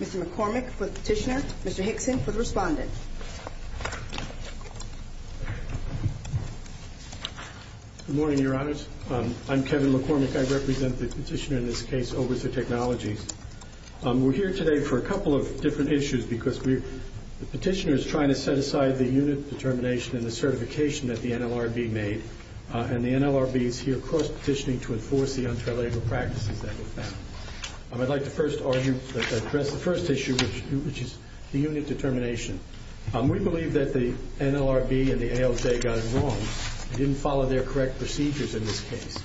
Mr. McCormick for the petitioner, Mr. Hickson for the respondent. Good morning, Your Honors. I'm Kevin McCormick. I represent the petitioner in this case, Oberthur Technologies. We're here today for a couple of different issues because the petitioner is trying to set aside the unit determination and the certification that the NLRB made, and the NLRB is here, of course, petitioning to enforce the unfair labor practices that were found. I'd like to first argue, address the first issue, which is the unit determination. We believe that the NLRB and the ALJ got it wrong. They didn't follow their correct procedures in this case.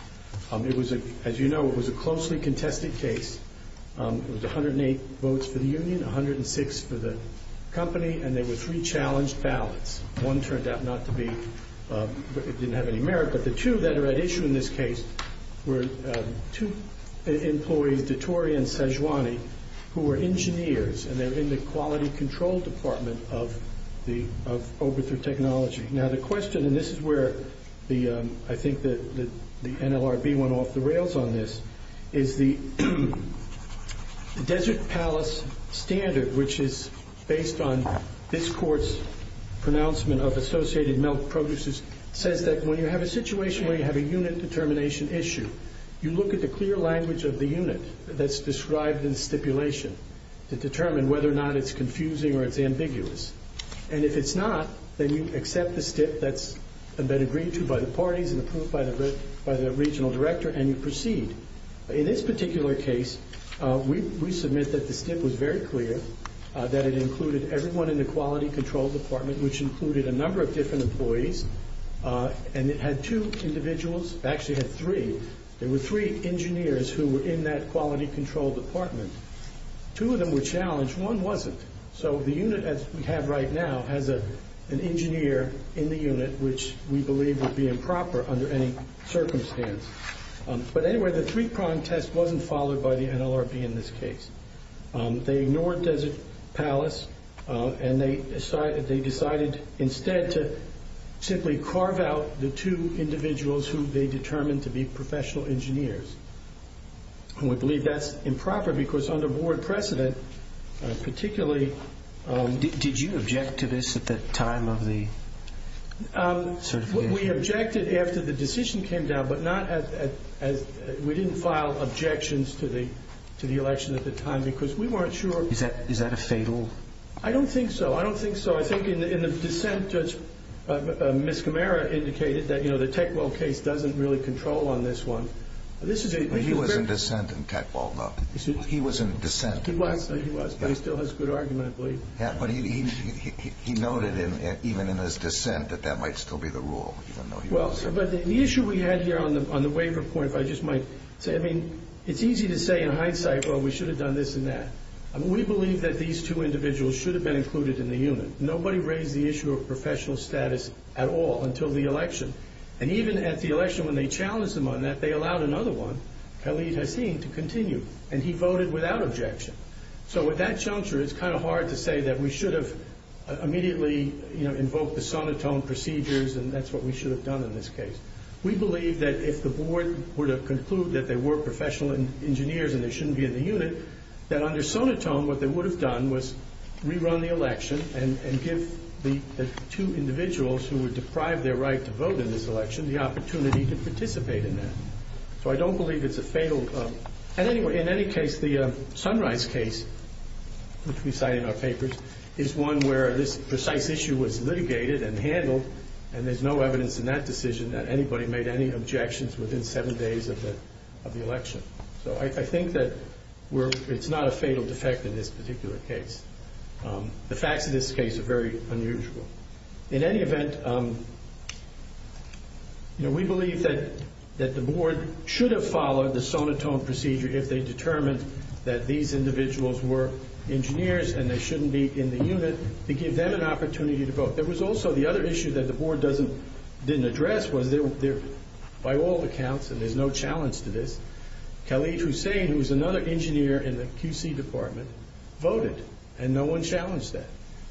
As you know, it was a closely contested case. It was 108 votes for the union, 106 for the company, and there were three challenged ballots. One turned out not to be, it didn't have any merit, but the two that are at issue in this case were two employees, DeTore and Sejuani, who were engineers, and they're in the quality control department of Oberthur Technologies. Now the question, and this is where I think the NLRB went off the rails on this, is the Desert Palace standard, which is based on this court's pronouncement of associated milk producers, says that when you have a situation where you have a unit determination issue, you look at the clear language of the unit that's described in stipulation to determine whether or not it's confusing or it's ambiguous, and if it's not, then you accept the stip that's been agreed to by the parties and approved by the regional director, and you proceed. In this particular case, we submit that the stip was very clear, that it included everyone in the quality control department, which included a number of different employees, and it had two individuals, it actually had three. There were three engineers who were in that quality control department. Two of them were challenged, one wasn't. So the unit, as we have right now, has an engineer in the unit, which we believe would be improper under any circumstance. But anyway, the three-prong test wasn't followed by the NLRB in this case. They ignored Desert Palace, and they decided instead to simply carve out the two individuals who they determined to be professional engineers. And we believe that's improper because under board precedent, particularly- Did you object to this at the time of the certification? We objected after the decision came down, but we didn't file objections to the election at the time because we weren't sure- Is that a fatal- I don't think so. I don't think so. I think in the dissent, Judge Miscamara indicated that the Teckwell case doesn't really control on this one. He was in dissent in Teckwell, though. He was in dissent. He was, but he still has good argument, I believe. Yeah, but he noted even in his dissent that that might still be the rule. Well, but the issue we had here on the waiver point, if I just might say, I mean, it's easy to say in hindsight, well, we should have done this and that. We believe that these two individuals should have been included in the unit. Nobody raised the issue of professional status at all until the election. And even at the election when they challenged him on that, they allowed another one, Khalid Hasim, to continue. And he voted without objection. So with that juncture, it's kind of hard to say that we should have immediately invoked the sonotone procedures, and that's what we should have done in this case. We believe that if the board were to conclude that they were professional engineers and they shouldn't be in the unit, that under sonotone, what they would have done was rerun the election and give the two individuals who were deprived their right to vote in this election the opportunity to participate in that. So I don't believe it's a fatal. And anyway, in any case, the Sunrise case, which we cite in our papers, is one where this precise issue was litigated and handled, and there's no evidence in that decision that anybody made any objections within seven days of the election. So I think that it's not a fatal defect in this particular case. The facts of this case are very unusual. In any event, we believe that the board should have followed the sonotone procedure if they determined that these individuals were engineers and they shouldn't be in the unit, to give them an opportunity to vote. There was also the other issue that the board didn't address, was by all accounts, and there's no challenge to this, Khalid Hussein, who was another engineer in the QC department, voted, and no one challenged that.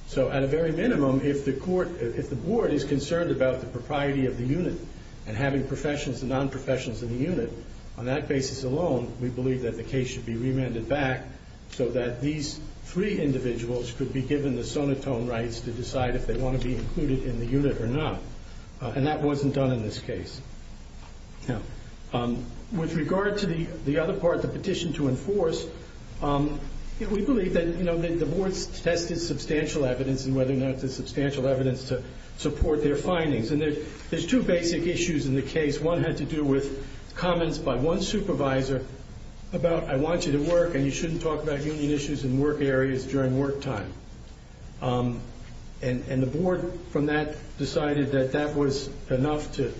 So at a very minimum, if the board is concerned about the propriety of the unit and having professionals and non-professionals in the unit, on that basis alone, we believe that the case should be remanded back so that these three individuals could be given the sonotone rights to decide if they want to be included in the unit or not. And that wasn't done in this case. Now, with regard to the other part, the petition to enforce, we believe that the board's tested substantial evidence and whether or not there's substantial evidence to support their findings. And there's two basic issues in the case. One had to do with comments by one supervisor about, I want you to work and you shouldn't talk about union issues in work areas during work time. And the board from that decided that that was enough to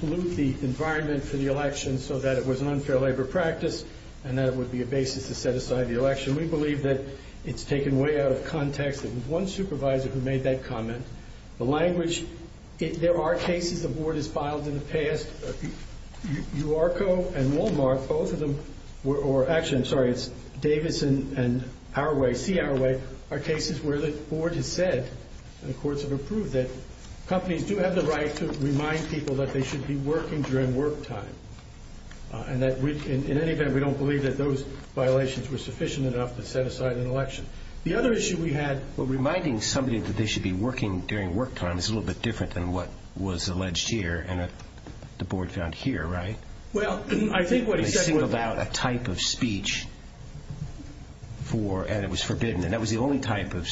pollute the environment for the election so that it was an unfair labor practice and that it would be a basis to set aside the election. We believe that it's taken way out of context. It was one supervisor who made that comment. The language, there are cases the board has filed in the past. UARCO and Wal-Mart, both of them, or actually, I'm sorry, it's Davison and Powerway, C-Powerway, are cases where the board has said, and the courts have approved it, companies do have the right to remind people that they should be working during work time. And in any event, we don't believe that those violations were sufficient enough to set aside an election. The other issue we had were reminding somebody that they should be working during work time. It's a little bit different than what was alleged here. The board found here, right? They singled out a type of speech and it was forbidden, and that was the only type of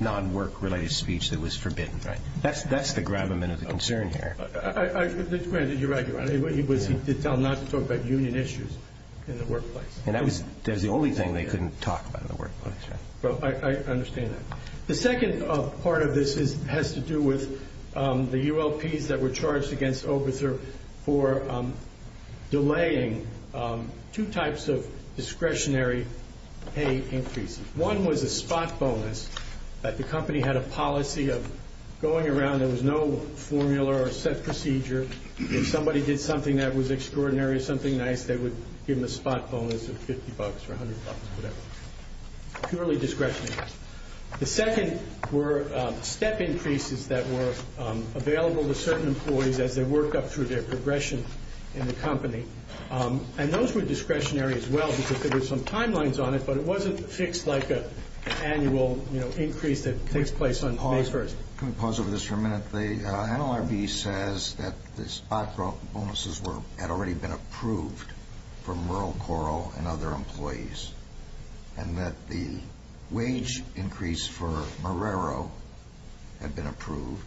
non-work-related speech that was forbidden. That's the gravamen of the concern here. You're right, Your Honor. He did not talk about union issues in the workplace. That was the only thing they couldn't talk about in the workplace. I understand that. The second part of this has to do with the ULPs that were charged against Oberther for delaying two types of discretionary pay increases. One was a spot bonus that the company had a policy of going around. There was no formula or set procedure. If somebody did something that was extraordinary or something nice, they would give them a spot bonus of $50 or $100 for that. Purely discretionary. The second were step increases that were available to certain employees as they worked up through their progression in the company. Those were discretionary as well because there were some timelines on it, but it wasn't fixed like an annual increase that takes place on May 1st. Can we pause over this for a minute? The NLRB says that the spot bonuses had already been approved for Merle Coral and other employees and that the wage increase for Marrero had been approved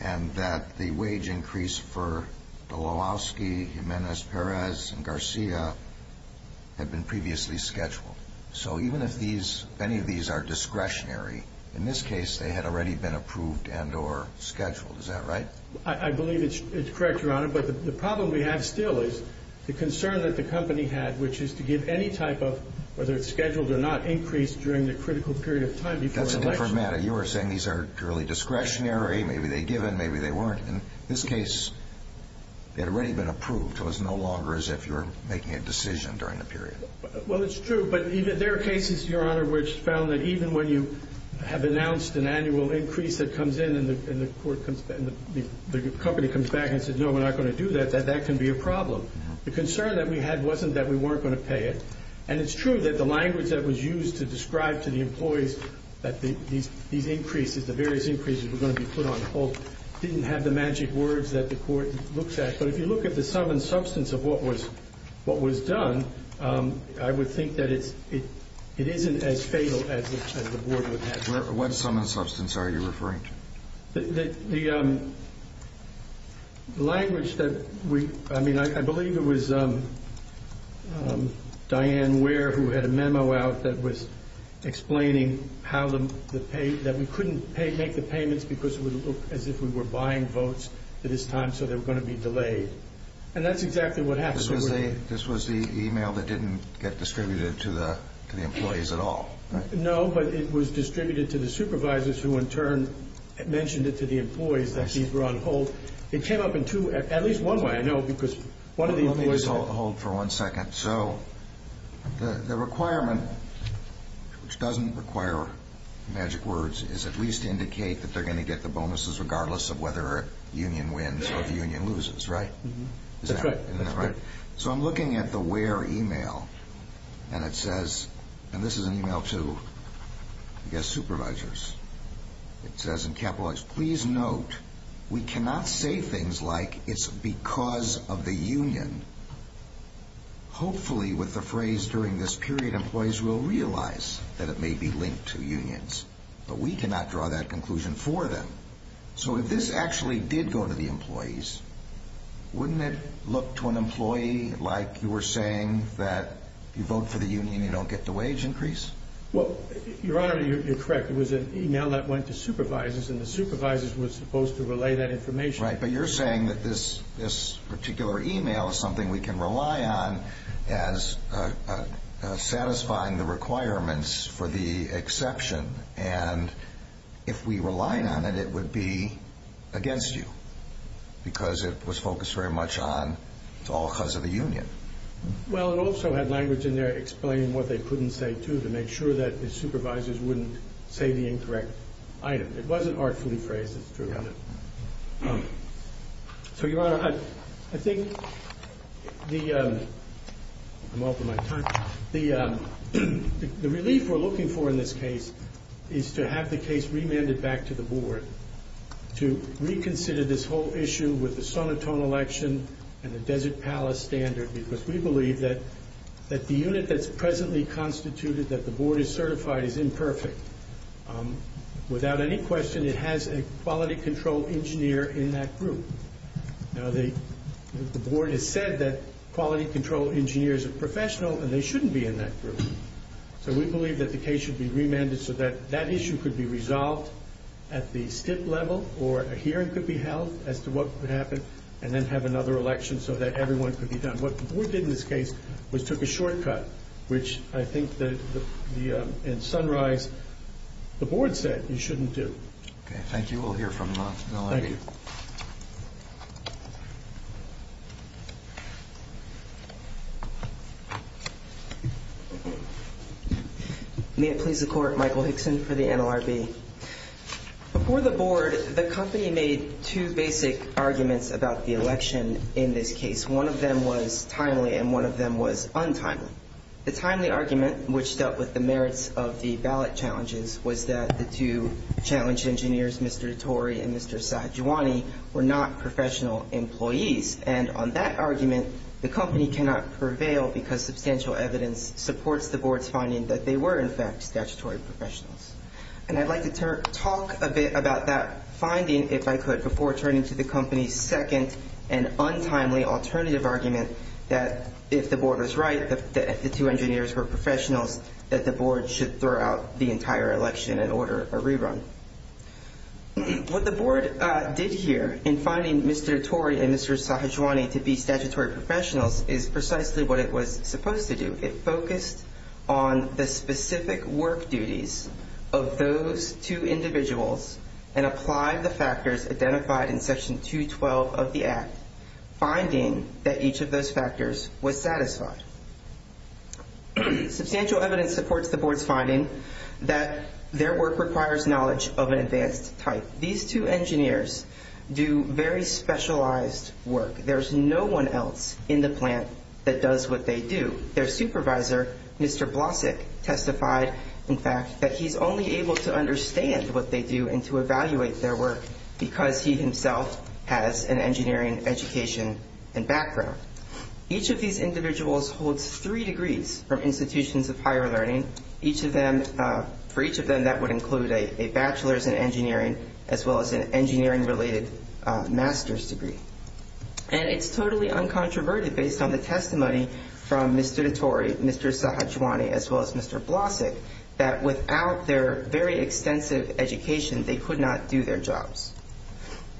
and that the wage increase for Dolowowski, Jimenez-Perez, and Garcia had been previously scheduled. So even if any of these are discretionary, in this case, they had already been approved and or scheduled. Is that right? I believe it's correct, Your Honor, but the problem we have still is the concern that the company had, which is to give any type of, whether it's scheduled or not, increase during the critical period of time before an election. That's a different matter. You were saying these are purely discretionary. Maybe they're given. Maybe they weren't. In this case, they had already been approved. It was no longer as if you were making a decision during the period. Well, it's true, but there are cases, Your Honor, which found that even when you have announced an annual increase that comes in and the company comes back and says, no, we're not going to do that, that that can be a problem. The concern that we had wasn't that we weren't going to pay it, and it's true that the language that was used to describe to the employees that these increases, the various increases were going to be put on hold, didn't have the magic words that the court looks at. But if you look at the sum and substance of what was done, I would think that it isn't as fatal as the board would have thought. What sum and substance are you referring to? The language that we, I mean, I believe it was Diane Ware who had a memo out that was explaining that we couldn't make the payments because it would look as if we were buying votes at this time, so they were going to be delayed. And that's exactly what happened. This was the email that didn't get distributed to the employees at all? No, but it was distributed to the supervisors who, in turn, mentioned it to the employees that these were on hold. It came up in two, at least one way, I know, because one of the employees... Let me just hold for one second. So the requirement, which doesn't require magic words, is at least indicate that they're going to get the bonuses regardless of whether a union wins or the union loses, right? That's correct. So I'm looking at the Ware email, and it says, and this is an email to, I guess, supervisors. It says in capitalized, Please note we cannot say things like it's because of the union. Hopefully with the phrase during this period, employees will realize that it may be linked to unions, but we cannot draw that conclusion for them. So if this actually did go to the employees, wouldn't it look to an employee like you were saying that you vote for the union, you don't get the wage increase? Well, Your Honor, you're correct. It was an email that went to supervisors, and the supervisors were supposed to relay that information. Right, but you're saying that this particular email is something we can rely on as satisfying the requirements for the exception, and if we relied on it, it would be against you because it was focused very much on it's all because of the union. Well, it also had language in there explaining what they couldn't say, too, to make sure that the supervisors wouldn't say the incorrect item. It wasn't artfully phrased, it's true. So, Your Honor, I think the, I'm over my time. The relief we're looking for in this case is to have the case remanded back to the board to reconsider this whole issue with the Sonotone election and the Desert Palace standard because we believe that the unit that's presently constituted, that the board is certified, is imperfect. Without any question, it has a quality control engineer in that group. Now, the board has said that quality control engineers are professional, and they shouldn't be in that group. So we believe that the case should be remanded so that that issue could be resolved at the STIP level or a hearing could be held as to what could happen and then have another election so that everyone could be done. What the board did in this case was took a shortcut, which I think in Sunrise the board said you shouldn't do. Okay, thank you. We'll hear from the NLRB. Thank you. May it please the Court, Michael Hickson for the NLRB. Before the board, the company made two basic arguments about the election in this case. One of them was timely and one of them was untimely. The timely argument, which dealt with the merits of the ballot challenges, was that the two challenged engineers, Mr. DeTore and Mr. Sahajewani, were not professional employees. And on that argument, the company cannot prevail because substantial evidence supports the board's finding that they were, in fact, statutory professionals. And I'd like to talk a bit about that finding, if I could, before turning to the company's second and untimely alternative argument that if the board was right, that if the two engineers were professionals, that the board should throw out the entire election and order a rerun. What the board did here in finding Mr. DeTore and Mr. Sahajewani to be statutory professionals is precisely what it was supposed to do. It focused on the specific work duties of those two individuals and applied the factors identified in Section 212 of the Act, finding that each of those factors was satisfied. Substantial evidence supports the board's finding that their work requires knowledge of an advanced type. These two engineers do very specialized work. There's no one else in the plant that does what they do. Their supervisor, Mr. Blasek, testified, in fact, that he's only able to understand what they do and to evaluate their work because he himself has an engineering education and background. Each of these individuals holds three degrees from institutions of higher learning. For each of them, that would include a bachelor's in engineering as well as an engineering-related master's degree. And it's totally uncontroverted based on the testimony from Mr. DeTore, Mr. Sahajewani, as well as Mr. Blasek, that without their very extensive education, they could not do their jobs.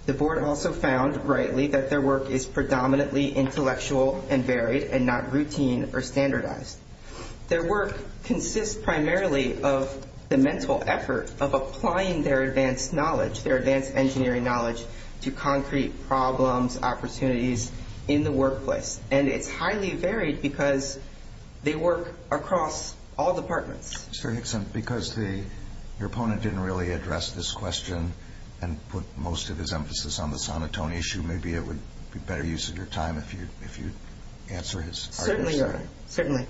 The board also found, rightly, that their work is predominantly intellectual and varied and not routine or standardized. Their work consists primarily of the mental effort of applying their advanced knowledge, their advanced engineering knowledge, to concrete problems, opportunities in the workplace. And it's highly varied because they work across all departments. Mr. Nixon, because your opponent didn't really address this question and put most of his emphasis on the sonotone issue, maybe it would be better use of your time if you'd answer his question. Certainly.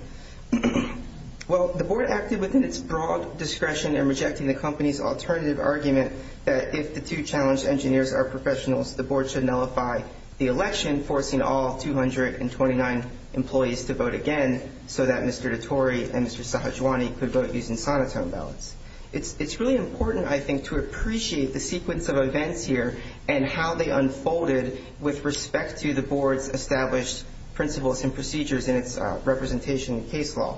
Well, the board acted within its broad discretion in rejecting the company's alternative argument that if the two challenged engineers are professionals, the board should nullify the election, forcing all 229 employees to vote again so that Mr. DeTore and Mr. Sahajewani could vote using sonotone ballots. It's really important, I think, to appreciate the sequence of events here and how they unfolded with respect to the board's established principles and procedures in its representation in case law.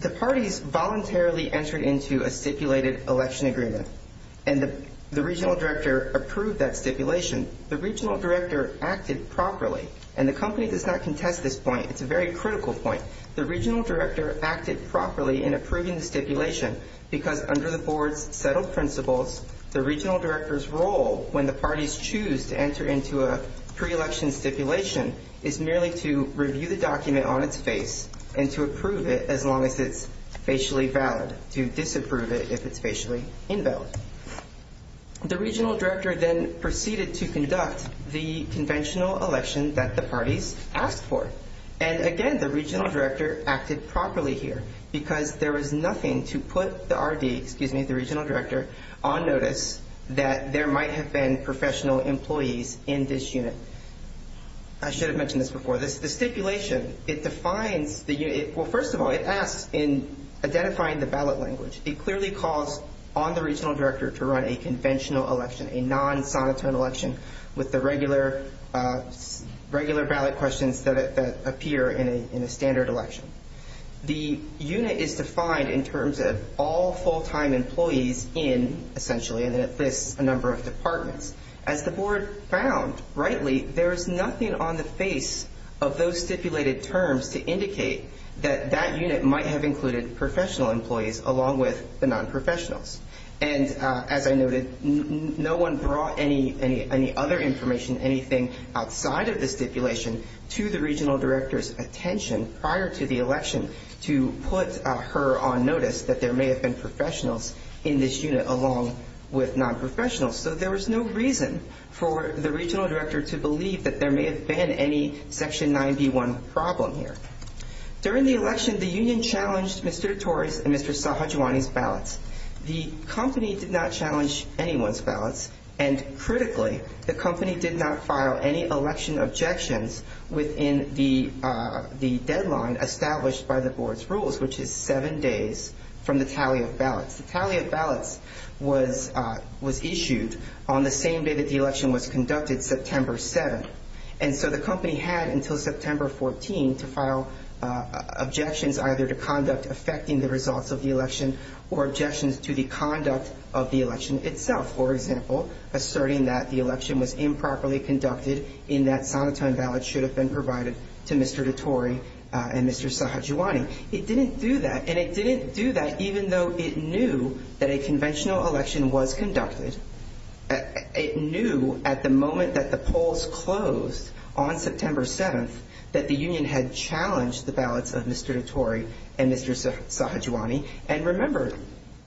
The parties voluntarily entered into a stipulated election agreement, and the regional director approved that stipulation. The regional director acted properly, and the company does not contest this point. It's a very critical point. The regional director acted properly in approving the stipulation because under the board's settled principles, the regional director's role when the parties choose to enter into a pre-election stipulation is merely to review the document on its face and to approve it as long as it's facially valid, to disapprove it if it's facially invalid. The regional director then proceeded to conduct the conventional election that the parties asked for. And again, the regional director acted properly here because there was nothing to put the RD, excuse me, the regional director, on notice that there might have been professional employees in this unit. I should have mentioned this before. The stipulation, it defines the unit. Well, first of all, it asks in identifying the ballot language. It clearly calls on the regional director to run a conventional election, a non-sonotone election with the regular ballot questions that appear in a standard election. The unit is defined in terms of all full-time employees in, essentially, and then it lists a number of departments. As the board found, rightly, there is nothing on the face of those stipulated terms to indicate that that unit might have included professional employees along with the non-professionals. And as I noted, no one brought any other information, anything outside of the stipulation, to the regional director's attention prior to the election to put her on notice that there may have been professionals in this unit along with non-professionals. So there was no reason for the regional director to believe that there may have been any Section 9B1 problem here. During the election, the union challenged Mr. Torrey's and Mr. Sahajewani's ballots. The company did not challenge anyone's ballots, and critically, the company did not file any election objections within the deadline established by the board's rules, which is seven days from the tally of ballots. The tally of ballots was issued on the same day that the election was conducted, September 7th. And so the company had until September 14th to file objections either to conduct affecting the results of the election or objections to the conduct of the election itself. For example, asserting that the election was improperly conducted in that sonatine ballots should have been provided to Mr. DeTorrey and Mr. Sahajewani. It didn't do that, and it didn't do that even though it knew that a conventional election was conducted. It knew at the moment that the polls closed on September 7th that the union had challenged the ballots of Mr. DeTorrey and Mr. Sahajewani. And remember,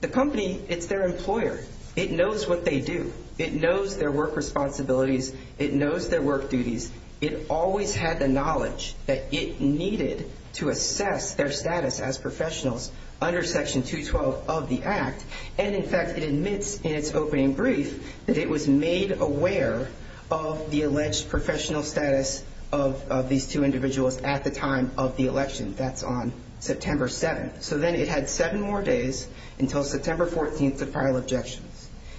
the company, it's their employer. It knows what they do. It knows their work responsibilities. It knows their work duties. It always had the knowledge that it needed to assess their status as professionals under Section 212 of the Act. And, in fact, it admits in its opening brief that it was made aware of the alleged professional status of these two individuals at the time of the election. That's on September 7th. So then it had seven more days until September 14th to file objections.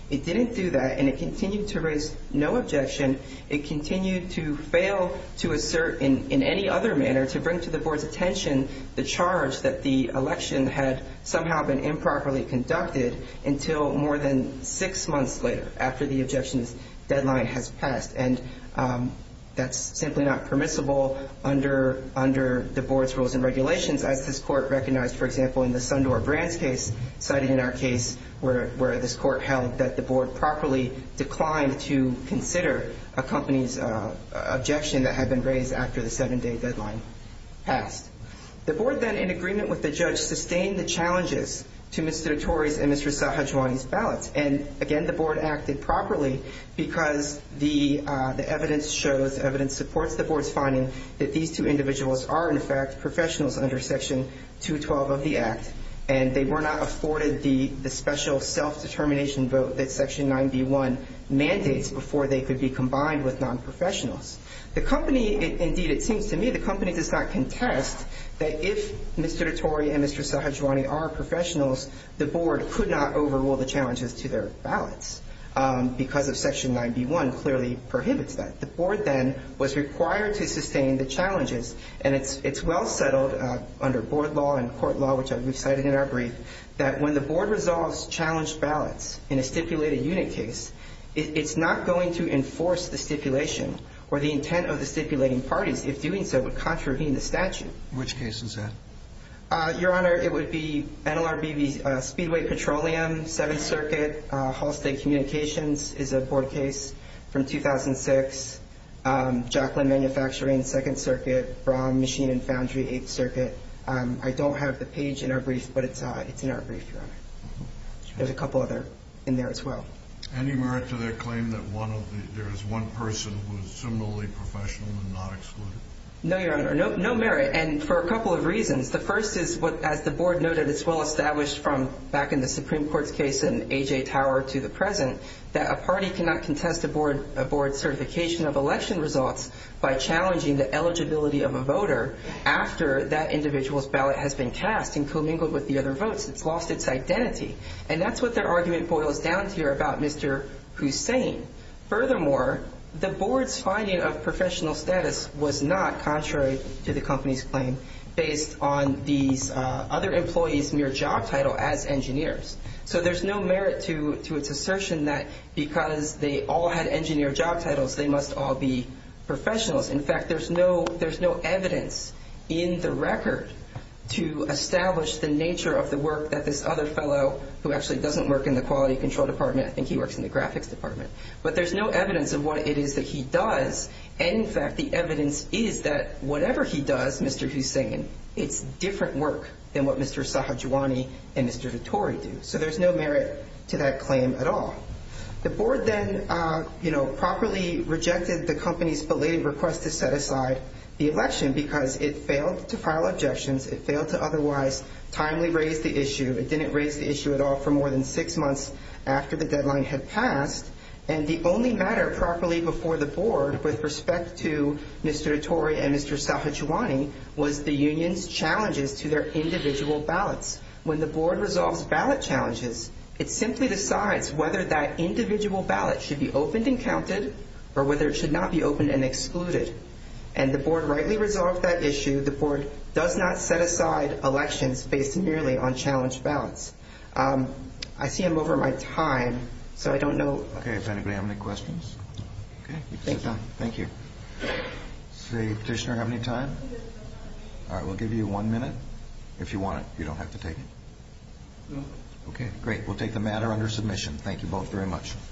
It didn't do that, and it continued to raise no objection. It continued to fail to assert in any other manner to bring to the board's attention the charge that the election had somehow been improperly conducted until more than six months later after the objections deadline has passed. And that's simply not permissible under the board's rules and regulations as this court recognized, for example, in the Sundor-Brands case cited in our case where this court held that the board properly declined to consider a company's objection that had been raised after the seven-day deadline passed. The board then, in agreement with the judge, sustained the challenges to Mr. DeTorrey's and Mr. Sahajewani's ballots. And, again, the board acted properly because the evidence shows, evidence supports the board's finding that these two individuals are, in fact, professionals under Section 212 of the Act, and they were not afforded the special self-determination vote that Section 9b-1 mandates before they could be combined with nonprofessionals. The company, indeed it seems to me, the company does not contest that if Mr. DeTorrey and Mr. Sahajewani are professionals, the board could not overrule the challenges to their ballots because Section 9b-1 clearly prohibits that. The board then was required to sustain the challenges. And it's well settled under board law and court law, which we've cited in our brief, that when the board resolves challenged ballots in a stipulated unit case, it's not going to enforce the stipulation or the intent of the stipulating parties. If doing so, it would contravene the statute. Which case is that? Your Honor, it would be NLRB Speedway Petroleum, Seventh Circuit. Hall State Communications is a board case from 2006. Jaclyn Manufacturing, Second Circuit. Brown Machine and Foundry, Eighth Circuit. I don't have the page in our brief, but it's in our brief, Your Honor. There's a couple other in there as well. Any merit to their claim that there is one person who is similarly professional and not excluded? No, Your Honor, no merit, and for a couple of reasons. The first is, as the board noted, it's well established from back in the Supreme Court's case in A.J. Tower to the present that a party cannot contest a board's certification of election results by challenging the eligibility of a voter after that individual's ballot has been cast and commingled with the other votes. It's lost its identity. And that's what their argument boils down to here about Mr. Hussain. Furthermore, the board's finding of professional status was not contrary to the company's claim based on these other employees' mere job title as engineers. So there's no merit to its assertion that because they all had engineer job titles, they must all be professionals. In fact, there's no evidence in the record to establish the nature of the work that this other fellow, who actually doesn't work in the Quality Control Department, I think he works in the Graphics Department, but there's no evidence of what it is that he does. And, in fact, the evidence is that whatever he does, Mr. Hussain, it's different work than what Mr. Sahajewani and Mr. Vittori do. So there's no merit to that claim at all. The board then properly rejected the company's belated request to set aside the election because it failed to file objections. It failed to otherwise timely raise the issue. It didn't raise the issue at all for more than six months after the deadline had passed. And the only matter properly before the board with respect to Mr. Vittori and Mr. Sahajewani was the union's challenges to their individual ballots. When the board resolves ballot challenges, it simply decides whether that individual ballot should be opened and counted or whether it should not be opened and excluded. And the board rightly resolved that issue. The board does not set aside elections based merely on challenge ballots. I see I'm over my time, so I don't know. Okay. Does anybody have any questions? Okay. You can sit down. Thank you. Does the petitioner have any time? All right. We'll give you one minute. If you want it, you don't have to take it. No. Okay. Great. We'll take the matter under submission. Thank you both very much.